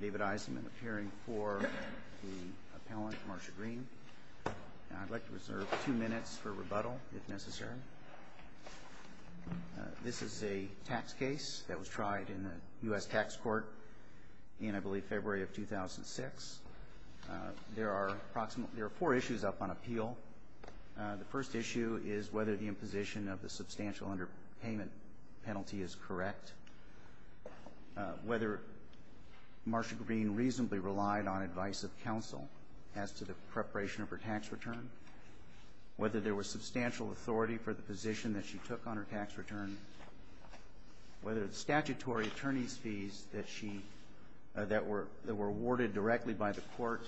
David Eisenman appearing for the appellant, Marcia Green. I'd like to reserve two minutes for rebuttal, if necessary. This is a tax case that was tried in the U.S. Tax Court in, I believe, February of 2006. There are four issues up on appeal. The first issue is whether the imposition of the substantial underpayment penalty is correct, whether Marcia Green reasonably relied on advice of counsel as to the preparation of her tax return, whether there was substantial authority for the position that she took on her tax return, whether the statutory attorney's fees that were awarded directly by the court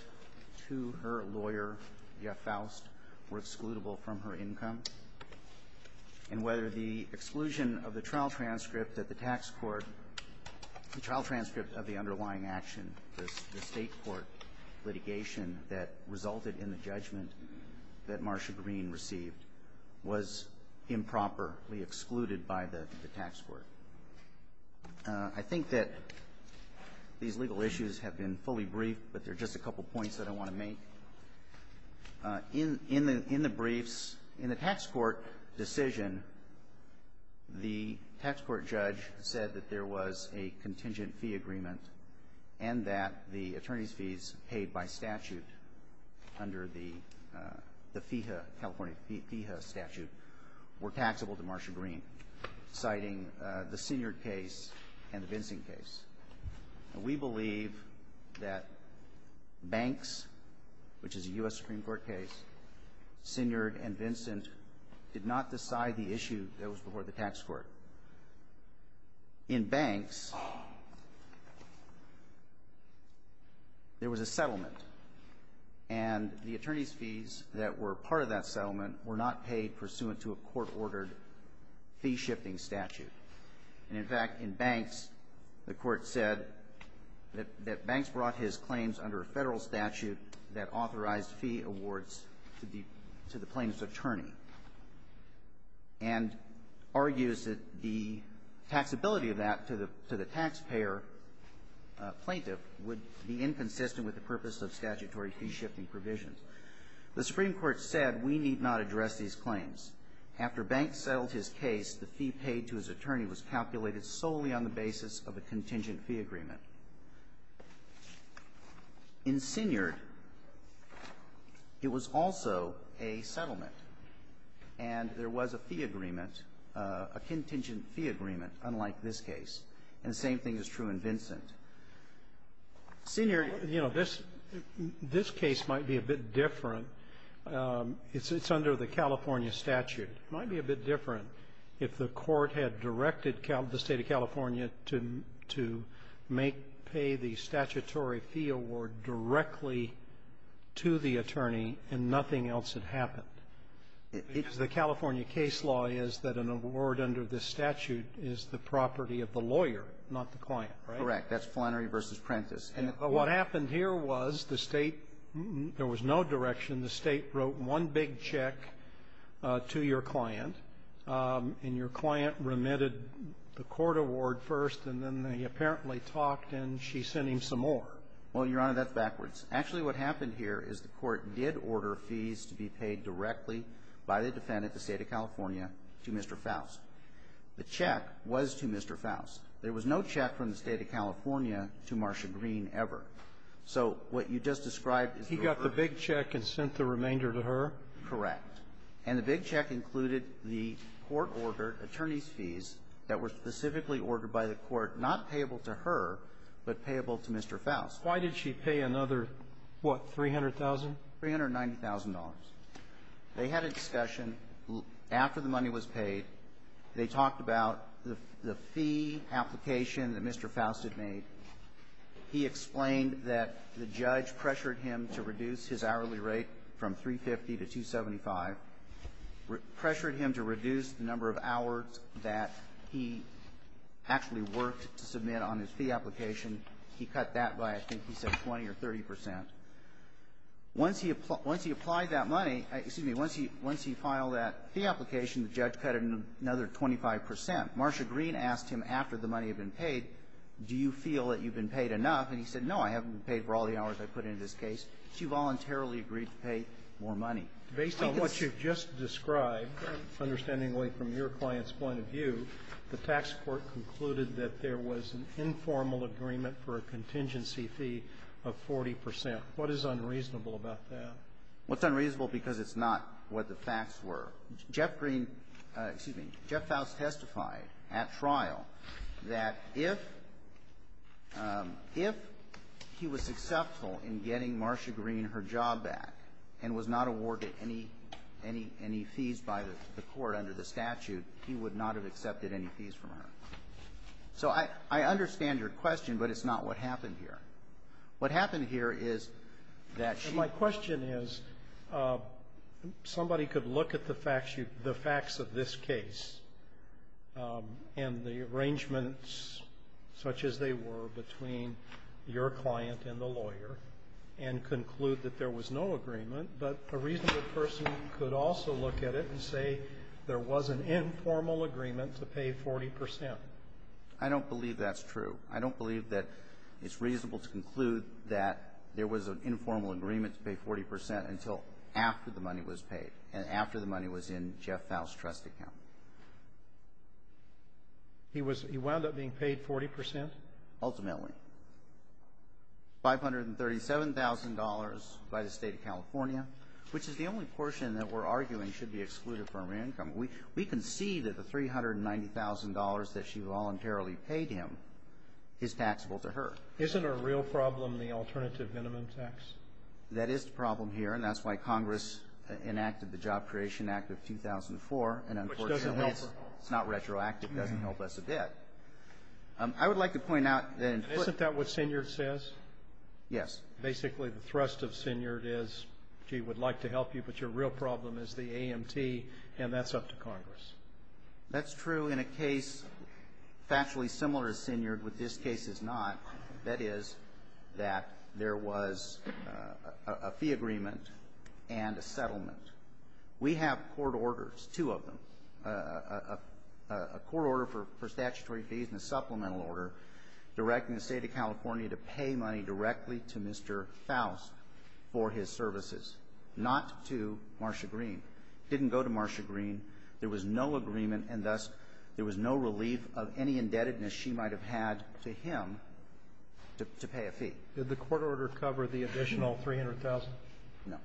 to her lawyer, Jeff Faust, were excludable from her income, and whether the exclusion of the trial transcript that the tax court, the trial transcript of the underlying action, the State court litigation that resulted in the judgment that Marcia Green received was improperly excluded by the tax court. I think that these legal issues have been fully briefed, but there are just a couple points that I want to make. In the briefs, in the tax court decision, the tax court judge said that there was a contingent fee agreement and that the attorney's fees paid by statute under the California FEHA statute were taxable to Marcia Green, citing the Senior case and the Vincing case. And we believe that Banks, which is a U.S. Supreme Court case, Senior and Vincent, did not decide the issue that was before the tax court. In Banks, there was a settlement, and the attorney's fees that were part of that settlement were not paid pursuant to a court-ordered fee-shifting statute. And, in fact, in Banks, the court said that Banks brought his claims under a federal statute that authorized fee awards to the plaintiff's attorney, and argues that the taxability of that to the taxpayer plaintiff would be inconsistent with the purpose of statutory fee-shifting provisions. The Supreme Court said we need not address these claims. After Banks settled his case, the fee paid to his attorney was calculated solely on the basis of a contingent fee agreement. In Senior, it was also a settlement. And there was a fee agreement, a contingent fee agreement, unlike this case. And the same thing is true in Vincent. Senior --" Sotomayor, this case might be a bit different. It's under the California statute. It might be a bit different if the court had directed the State of California to make pay the statutory fee award directly to the attorney and nothing else had happened. Because the California case law is that an award under this statute is the property of the lawyer, not the client, right? That's Flannery v. Prentice. And what happened here was the State --" there was no direction. The State wrote one big check to your client, and your client remitted the court award first, and then they apparently talked, and she sent him some more. Well, Your Honor, that's backwards. Actually, what happened here is the court did order fees to be paid directly by the defendant, the State of California, to Mr. Faust. The check was to Mr. Faust. There was no check from the State of California to Marcia Greene ever. So what you just described is the record. He got the big check and sent the remainder to her? Correct. And the big check included the court-ordered attorney's fees that were specifically ordered by the court, not payable to her, but payable to Mr. Faust. Why did she pay another, what, $300,000? $390,000. They had a discussion after the money was paid. They talked about the fee application that Mr. Faust had made. He explained that the judge pressured him to reduce his hourly rate from 350 to 275. Pressured him to reduce the number of hours that he actually worked to submit on his fee application. He cut that by, I think he said, 20 or 30 percent. Once he applied that money, excuse me, once he filed that fee application, the judge cut it another 25 percent. Marcia Greene asked him after the money had been paid, do you feel that you've been paid enough? And he said, no, I haven't been paid for all the hours I put into this case. She voluntarily agreed to pay more money. Based on what you've just described, understandingly from your client's point of view, the tax court concluded that there was an informal agreement for a contingency fee of 40 percent. What is unreasonable about that? Well, it's unreasonable because it's not what the facts were. Jeff Greene, excuse me, Jeff Faust testified at trial that if he was successful in getting Marcia Greene her job back and was not awarded any fees by the court under the statute, he would not have accepted any fees from her. So I understand your question, but it's not what happened here. What happened here is that she ---- the facts of this case and the arrangements such as they were between your client and the lawyer and conclude that there was no agreement, but a reasonable person could also look at it and say there was an informal agreement to pay 40 percent. I don't believe that's true. I don't believe that it's reasonable to conclude that there was an informal agreement to pay 40 percent until after the money was paid and after the money was in Jeff Faust's trust account. He was ---- he wound up being paid 40 percent? Ultimately. $537,000 by the State of California, which is the only portion that we're arguing should be excluded from her income. We can see that the $390,000 that she voluntarily paid him is taxable to her. Isn't a real problem the alternative minimum tax? That is the problem here, and that's why Congress enacted the Job Creation Act of 2004, and unfortunately it's not retroactive. It doesn't help us a bit. I would like to point out that in ---- Isn't that what Sinyard says? Yes. Basically the thrust of Sinyard is, gee, we'd like to help you, but your real problem is the AMT, and that's up to Congress. That's true in a case factually similar to Sinyard, but this case is not. That is that there was a fee agreement and a settlement. We have court orders, two of them, a court order for statutory fees and a supplemental order directing the State of California to pay money directly to Mr. Faust for his services, not to Marcia Green. It didn't go to Marcia Green. There was no agreement, and thus there was no relief of any indebtedness she might have had to him to pay a fee. Did the court order cover the additional $300,000? No.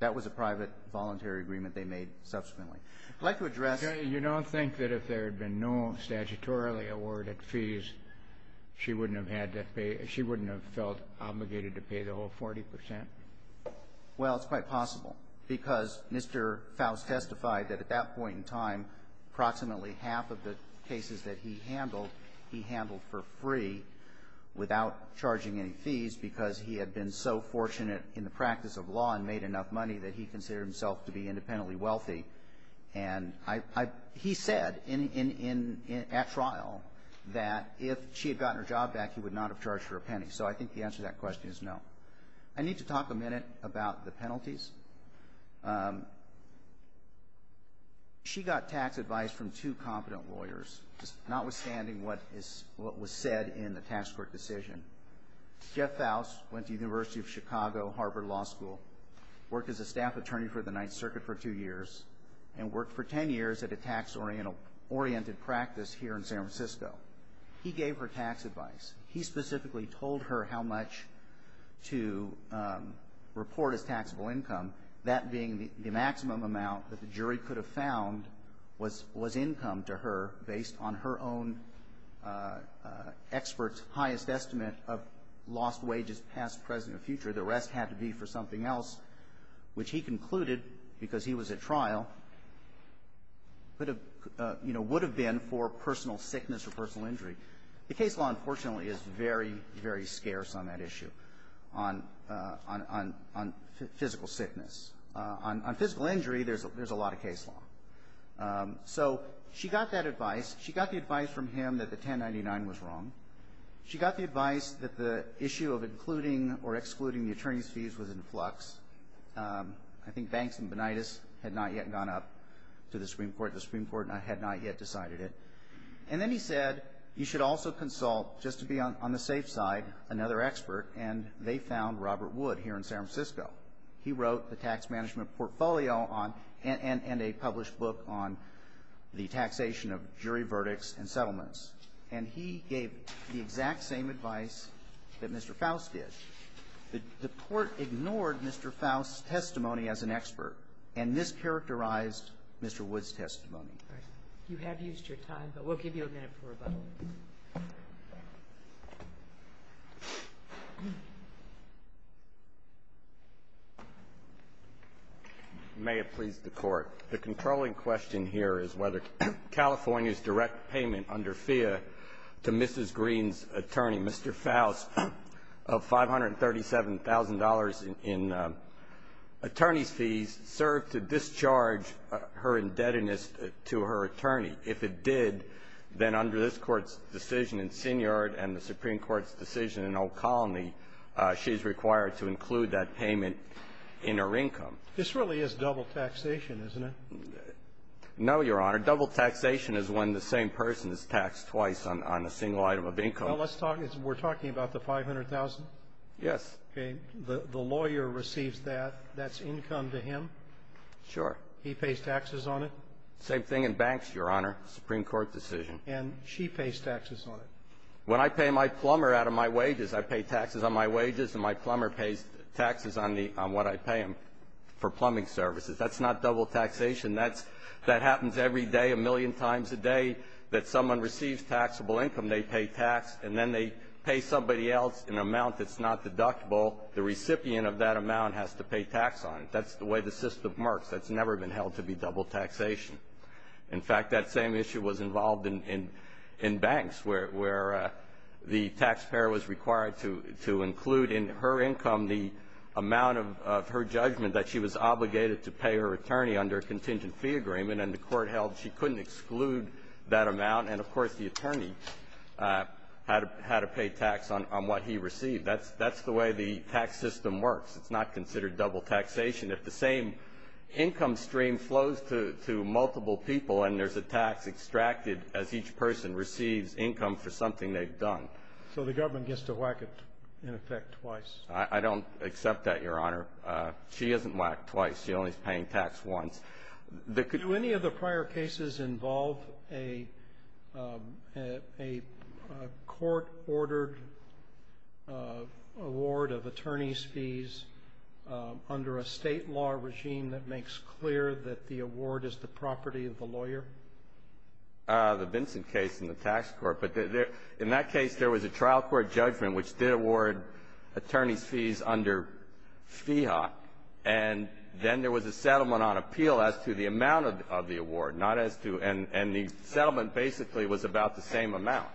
That was a private voluntary agreement they made subsequently. I'd like to address ---- Okay. You don't think that if there had been no statutorily awarded fees, she wouldn't have had to pay ---- she wouldn't have felt obligated to pay the whole 40 percent? Well, it's quite possible, because Mr. Faust testified that at that point in time approximately half of the cases that he handled, he handled for free without charging any fees because he had been so fortunate in the practice of law and made enough money that he considered himself to be independently wealthy. And I ---- he said in ---- at trial that if she had gotten her job back, he would not have charged her a penny. So I think the answer to that question is no. I need to talk a minute about the penalties. She got tax advice from two competent lawyers, notwithstanding what was said in the tax court decision. Jeff Faust went to the University of Chicago Harvard Law School, worked as a staff attorney for the Ninth Circuit for two years, and worked for 10 years at a tax-oriented practice here in San Francisco. He gave her tax advice. He specifically told her how much to report as taxable income, that being the maximum amount that the jury could have found was income to her based on her own expert's highest estimate of lost wages past, present, and future. The rest had to be for something else, which he concluded, because he was at trial, could have, you know, would have been for personal sickness or personal injury. The case law, unfortunately, is very, very scarce on that issue, on physical sickness. On physical injury, there's a lot of case law. So she got that advice. She got the advice from him that the 1099 was wrong. She got the advice that the issue of including or excluding the attorney's fees was in flux. I think Banks and Bonitas had not yet gone up to the Supreme Court. The Supreme Court had not yet decided it. And then he said you should also consult, just to be on the safe side, another expert, and they found Robert Wood here in San Francisco. He wrote the tax management portfolio on and a published book on the taxation of jury verdicts and settlements. And he gave the exact same advice that Mr. Faust did. The court ignored Mr. Faust's testimony as an expert and mischaracterized Mr. Wood's testimony. You have used your time, but we'll give you a minute for rebuttal. May it please the Court. The controlling question here is whether California's direct payment under FEA to Mrs. Green's attorney, Mr. Faust, of $537,000 in attorney's fees, served to discharge her indebtedness to her attorney. If it did, then under this Court's decision in Synyard and the Supreme Court's decision in O'Connelly, she's required to include that payment in her income. This really is double taxation, isn't it? No, Your Honor. Double taxation is when the same person is taxed twice on a single item of income. Well, let's talk. We're talking about the $500,000? Yes. Okay. The lawyer receives that. That's income to him? Sure. He pays taxes on it? Same thing in banks, Your Honor, Supreme Court decision. And she pays taxes on it? When I pay my plumber out of my wages, I pay taxes on my wages, and my plumber pays taxes on what I pay him for plumbing services. That's not double taxation. That happens every day a million times a day that someone receives taxable income. They pay tax, and then they pay somebody else an amount that's not deductible. The recipient of that amount has to pay tax on it. That's the way the system works. That's never been held to be double taxation. In fact, that same issue was involved in banks where the taxpayer was required to include in her income the amount of her judgment that she was obligated to pay her attorney under a contingent fee agreement, and the court held she couldn't exclude that amount. And, of course, the attorney had to pay tax on what he received. That's the way the tax system works. It's not considered double taxation. If the same income stream flows to multiple people and there's a tax extracted as each person receives income for something they've done. So the government gets to whack it, in effect, twice. I don't accept that, Your Honor. She isn't whacked twice. She only is paying tax once. Do any of the prior cases involve a court-ordered award of attorney's fees? Under a state law regime that makes clear that the award is the property of the lawyer? The Vinson case in the tax court. But in that case, there was a trial court judgment which did award attorney's fees under FIHA. And then there was a settlement on appeal as to the amount of the award, not as to and the settlement basically was about the same amount.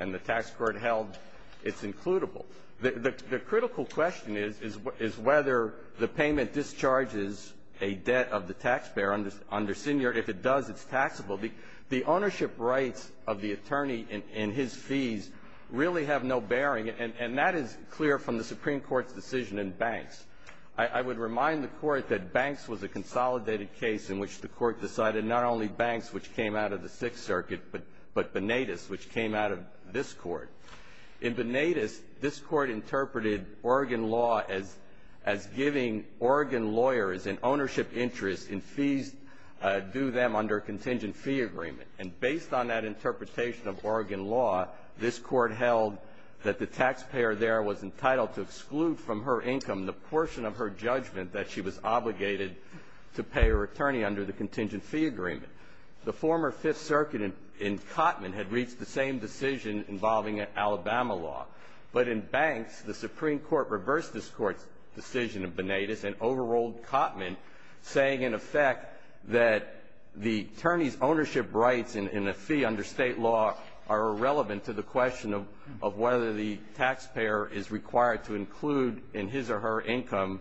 And the tax court held it's includable. The critical question is whether the payment discharges a debt of the taxpayer under senior. If it does, it's taxable. The ownership rights of the attorney and his fees really have no bearing. And that is clear from the Supreme Court's decision in Banks. I would remind the court that Banks was a consolidated case in which the court decided not only Banks, which came out of the Sixth Circuit, but Bonetus, which came out of this court. In Bonetus, this court interpreted Oregon law as giving Oregon lawyers an ownership interest in fees due them under a contingent fee agreement. And based on that interpretation of Oregon law, this court held that the taxpayer there was entitled to exclude from her income the portion of her judgment that she was obligated to pay her attorney under the contingent fee agreement. The former Fifth Circuit in Cotman had reached the same decision involving Alabama law. But in Banks, the Supreme Court reversed this court's decision in Bonetus and overruled Cotman, saying in effect that the attorney's ownership rights in a fee under State law are irrelevant to the question of whether the taxpayer is required to include in his or her income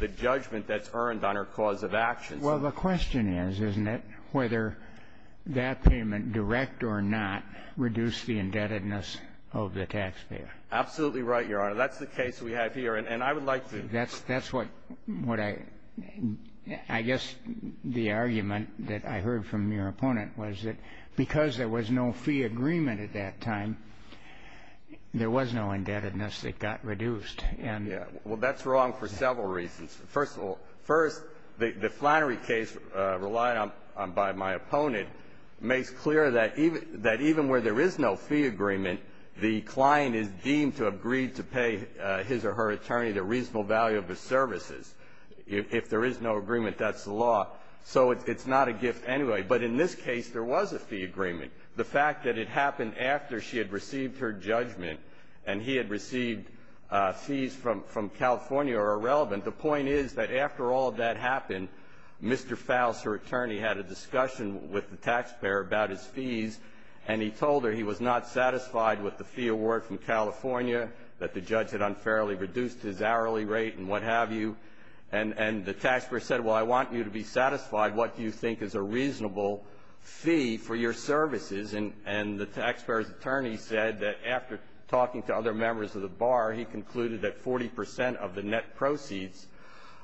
the judgment that's earned on her cause of action. Well, the question is, isn't it, whether that payment, direct or not, reduced the indebtedness of the taxpayer? Absolutely right, Your Honor. That's the case we have here. And I would like to ---- That's what I ---- I guess the argument that I heard from your opponent was that because there was no fee agreement at that time, there was no indebtedness that got reduced. Yeah. Well, that's wrong for several reasons. First of all, first, the Flannery case relied on by my opponent makes clear that even where there is no fee agreement, the client is deemed to have agreed to pay his or her attorney the reasonable value of the services. If there is no agreement, that's the law. So it's not a gift anyway. But in this case, there was a fee agreement. The fact that it happened after she had received her judgment and he had received the fees from California are irrelevant. The point is that after all of that happened, Mr. Faust, her attorney, had a discussion with the taxpayer about his fees, and he told her he was not satisfied with the fee award from California, that the judge had unfairly reduced his hourly rate and what have you. And the taxpayer said, well, I want you to be satisfied. What do you think is a reasonable fee for your services? And the taxpayer's attorney said that after talking to other members of the bar, he concluded that 40 percent of the net proceeds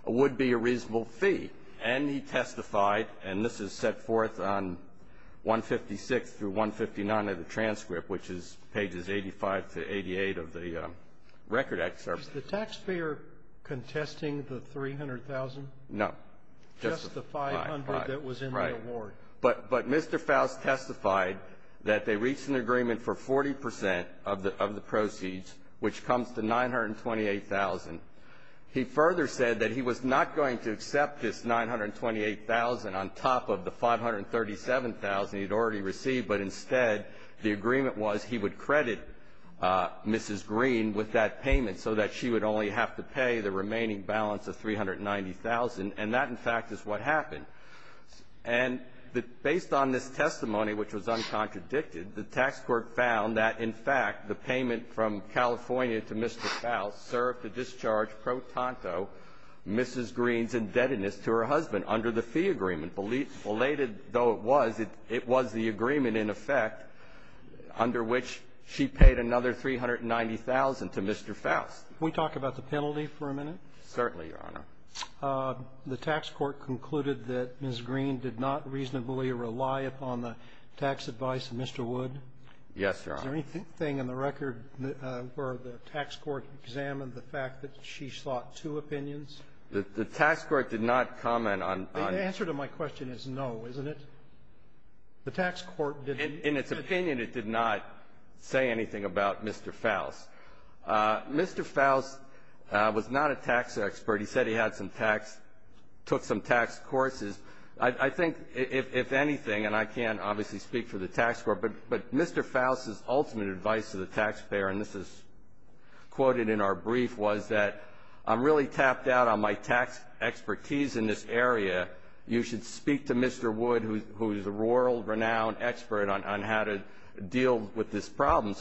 would be a reasonable fee. And he testified, and this is set forth on 156 through 159 of the transcript, which is pages 85 to 88 of the Record Act. Is the taxpayer contesting the $300,000? No. Right. But Mr. Faust testified that they reached an agreement for 40 percent of the proceeds, which comes to $928,000. He further said that he was not going to accept this $928,000 on top of the $537,000 he had already received, but instead the agreement was he would credit Mrs. Green with that payment so that she would only have to pay the remaining balance of $390,000. And that, in fact, is what happened. And based on this testimony, which was uncontradicted, the tax court found that, in fact, the payment from California to Mr. Faust served to discharge pro tanto Mrs. Green's indebtedness to her husband under the fee agreement, belated though it was, it was the agreement, in effect, under which she paid another $390,000 to Mr. Faust. Can we talk about the penalty for a minute? Certainly, Your Honor. The tax court concluded that Mrs. Green did not reasonably rely upon the tax advice of Mr. Wood. Yes, Your Honor. Is there anything in the record where the tax court examined the fact that she sought two opinions? The tax court did not comment on the ---- The answer to my question is no, isn't it? The tax court didn't ---- In its opinion, it did not say anything about Mr. Faust. Mr. Faust was not a tax expert. He said he had some tax, took some tax courses. I think, if anything, and I can't obviously speak for the tax court, but Mr. Faust's ultimate advice to the taxpayer, and this is quoted in our brief, was that I'm really tapped out on my tax expertise in this area. You should speak to Mr. Wood, who is a world-renowned expert on how to deal with this problem.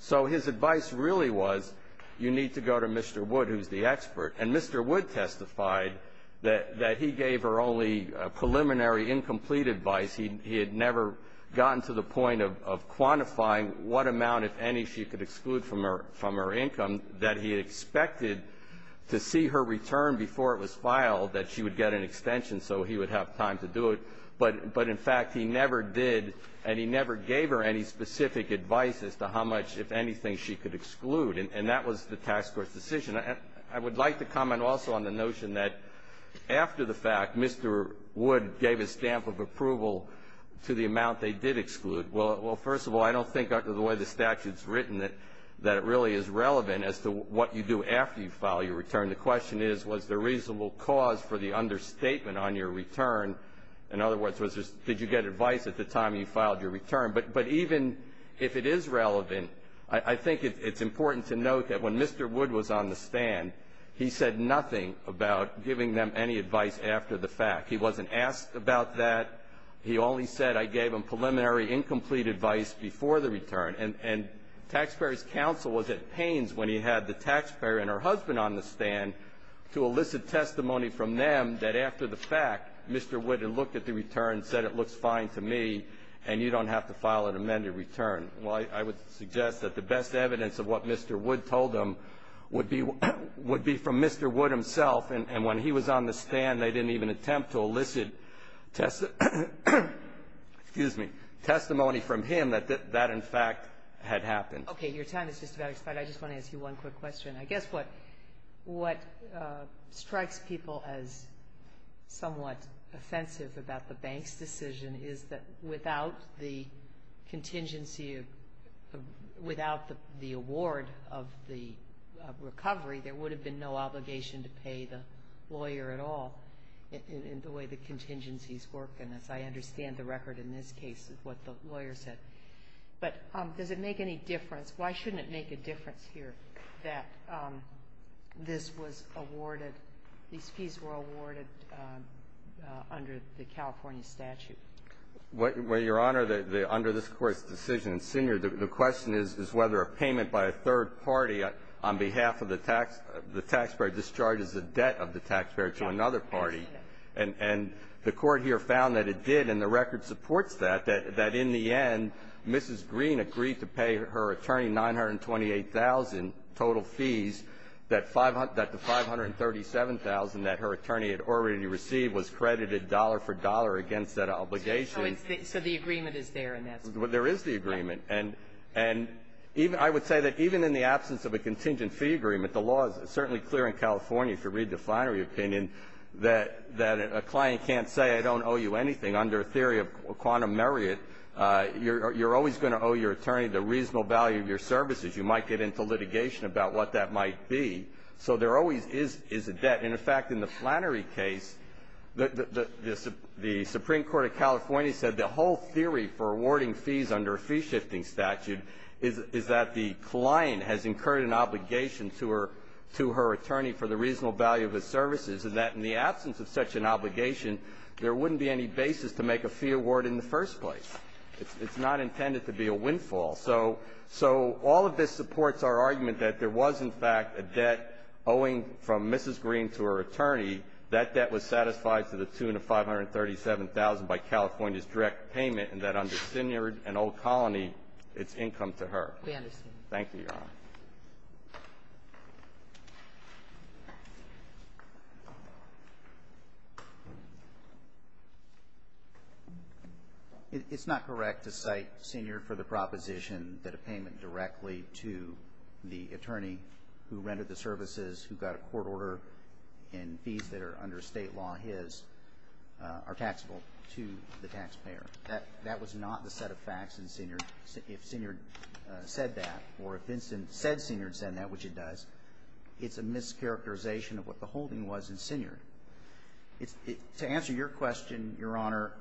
So his advice really was you need to go to Mr. Wood, who's the expert. And Mr. Wood testified that he gave her only preliminary, incomplete advice. He had never gotten to the point of quantifying what amount, if any, she could exclude from her income, that he expected to see her return before it was filed, that she would get an extension so he would have time to do it. But in fact, he never did, and he never gave her any specific advice as to how much, if anything, she could exclude. And that was the tax court's decision. I would like to comment also on the notion that after the fact, Mr. Wood gave a stamp of approval to the amount they did exclude. Well, first of all, I don't think, under the way the statute's written, that it really is relevant as to what you do after you file your return. The question is, was there reasonable cause for the understatement on your return? In other words, did you get advice at the time you filed your return? But even if it is relevant, I think it's important to note that when Mr. Wood was on the stand, he said nothing about giving them any advice after the fact. He wasn't asked about that. He only said, I gave them preliminary incomplete advice before the return. And taxpayers' counsel was at pains when he had the taxpayer and her husband on the stand to elicit testimony from them that after the fact, Mr. Wood had looked at the return, said it looks fine to me, and you don't have to file an amended return. Well, I would suggest that the best evidence of what Mr. Wood told them would be from Mr. Wood himself. And when he was on the stand, they didn't even attempt to elicit testimony from him that that, in fact, had happened. Okay. Your time is just about expired. I just want to ask you one quick question. I guess what strikes people as somewhat offensive about the bank's decision is that without the contingency of, without the award of the recovery, there would have been no obligation to pay the lawyer at all in the way the contingencies work. And as I understand the record in this case of what the lawyer said. But does it make any difference, why shouldn't it make a difference here that this was awarded, these fees were awarded under the California statute? Well, Your Honor, under this Court's decision, the question is whether a payment by a third party on behalf of the taxpayer discharges a debt of the taxpayer to another party. And the Court here found that it did, and the record supports that, that in the end Mrs. Green agreed to pay her attorney $928,000 total fees, that the $537,000 that was awarded to the taxpayer. Now, I would say that even in the absence of a contingent fee agreement, the law is certainly clear in California, if you read the Flannery opinion, that a client can't say I don't owe you anything under a theory of quantum merit. You're always going to owe your attorney the reasonable value of your services. You might get into litigation about what that might be. So there always is a debt. And, in fact, in the Flannery case, the Supreme Court of California said the whole theory for awarding fees under a fee-shifting statute is that the client has incurred an obligation to her attorney for the reasonable value of his services, and that in the absence of such an obligation, there wouldn't be any basis to make a fee award in the first place. It's not intended to be a windfall. So all of this supports our argument that there was, in fact, a debt owing from Mrs. Green to her attorney, that that was satisfied to the tune of $537,000 by California's direct payment, and that under Seniord and Old Colony, it's income to her. We understand. Thank you, Your Honor. It's not correct to cite Seniord for the proposition that a payment directly to the attorney who rented the services, who got a court order, and fees that are under State law, his, are taxable to the taxpayer. That was not the set of facts in Seniord. If Seniord said that, or if Vincent said Seniord said that, which it does, it's a mischaracterization of what the holding was in Seniord. To answer your question, Your Honor,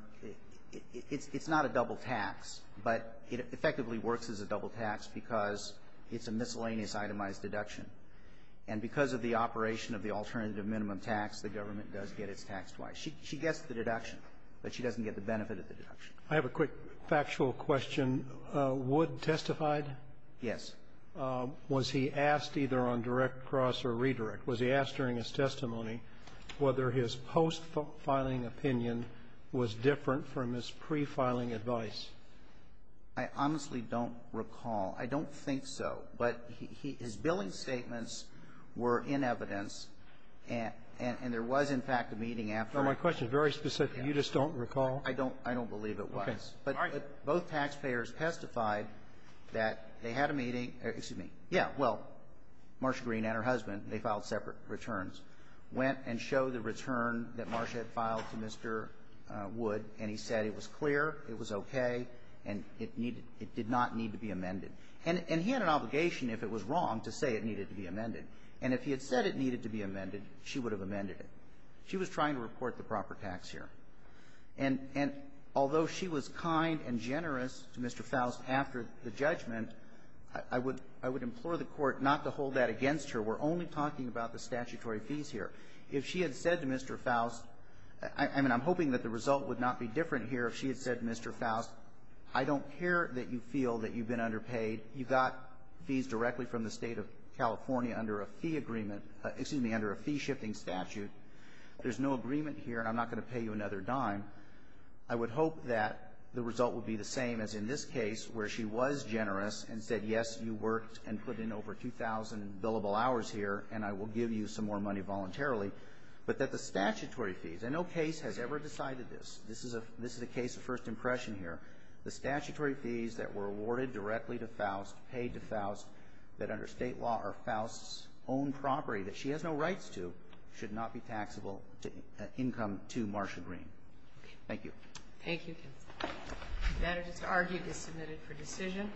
it's not a double tax, but it effectively works as a double tax because it's a miscellaneous itemized deduction. And because of the operation of the alternative minimum tax, the government does get its tax twice. She gets the deduction, but she doesn't get the benefit of the deduction. I have a quick factual question. Wood testified? Yes. Was he asked either on direct cross or redirect? Was he asked during his testimony whether his post-filing opinion was different from his pre-filing advice? I honestly don't recall. I don't think so. But his billing statements were in evidence, and there was, in fact, a meeting after. My question is very specific. You just don't recall? I don't believe it was. Okay. All right. But both taxpayers testified that they had a meeting or, excuse me, yeah, well, Marcia Green and her husband, they filed separate returns, went and showed the return that Marcia had filed to Mr. Wood, and he said it was clear, it was okay, and it needed to be amended. And he had an obligation, if it was wrong, to say it needed to be amended. And if he had said it needed to be amended, she would have amended it. She was trying to report the proper tax here. And although she was kind and generous to Mr. Faust after the judgment, I would implore the Court not to hold that against her. We're only talking about the statutory fees here. If she had said to Mr. Faust, I mean, I'm hoping that the result would not be different here if she had said to Mr. Faust, I don't care that you feel that you've been underpaid. You got fees directly from the State of California under a fee agreement, excuse me, under a fee-shifting statute. There's no agreement here, and I'm not going to pay you another dime. I would hope that the result would be the same as in this case, where she was generous and said, yes, you worked and put in over 2,000 billable hours here, and I will give you some more money voluntarily. But that the statutory fees, and no case has ever decided this. This is a case of first impression here. The statutory fees that were awarded directly to Faust, paid to Faust, that under State law are Faust's own property that she has no rights to, should not be taxable income to Marsha Green. Thank you. Thank you, counsel. The matter is to argue, be submitted for decision.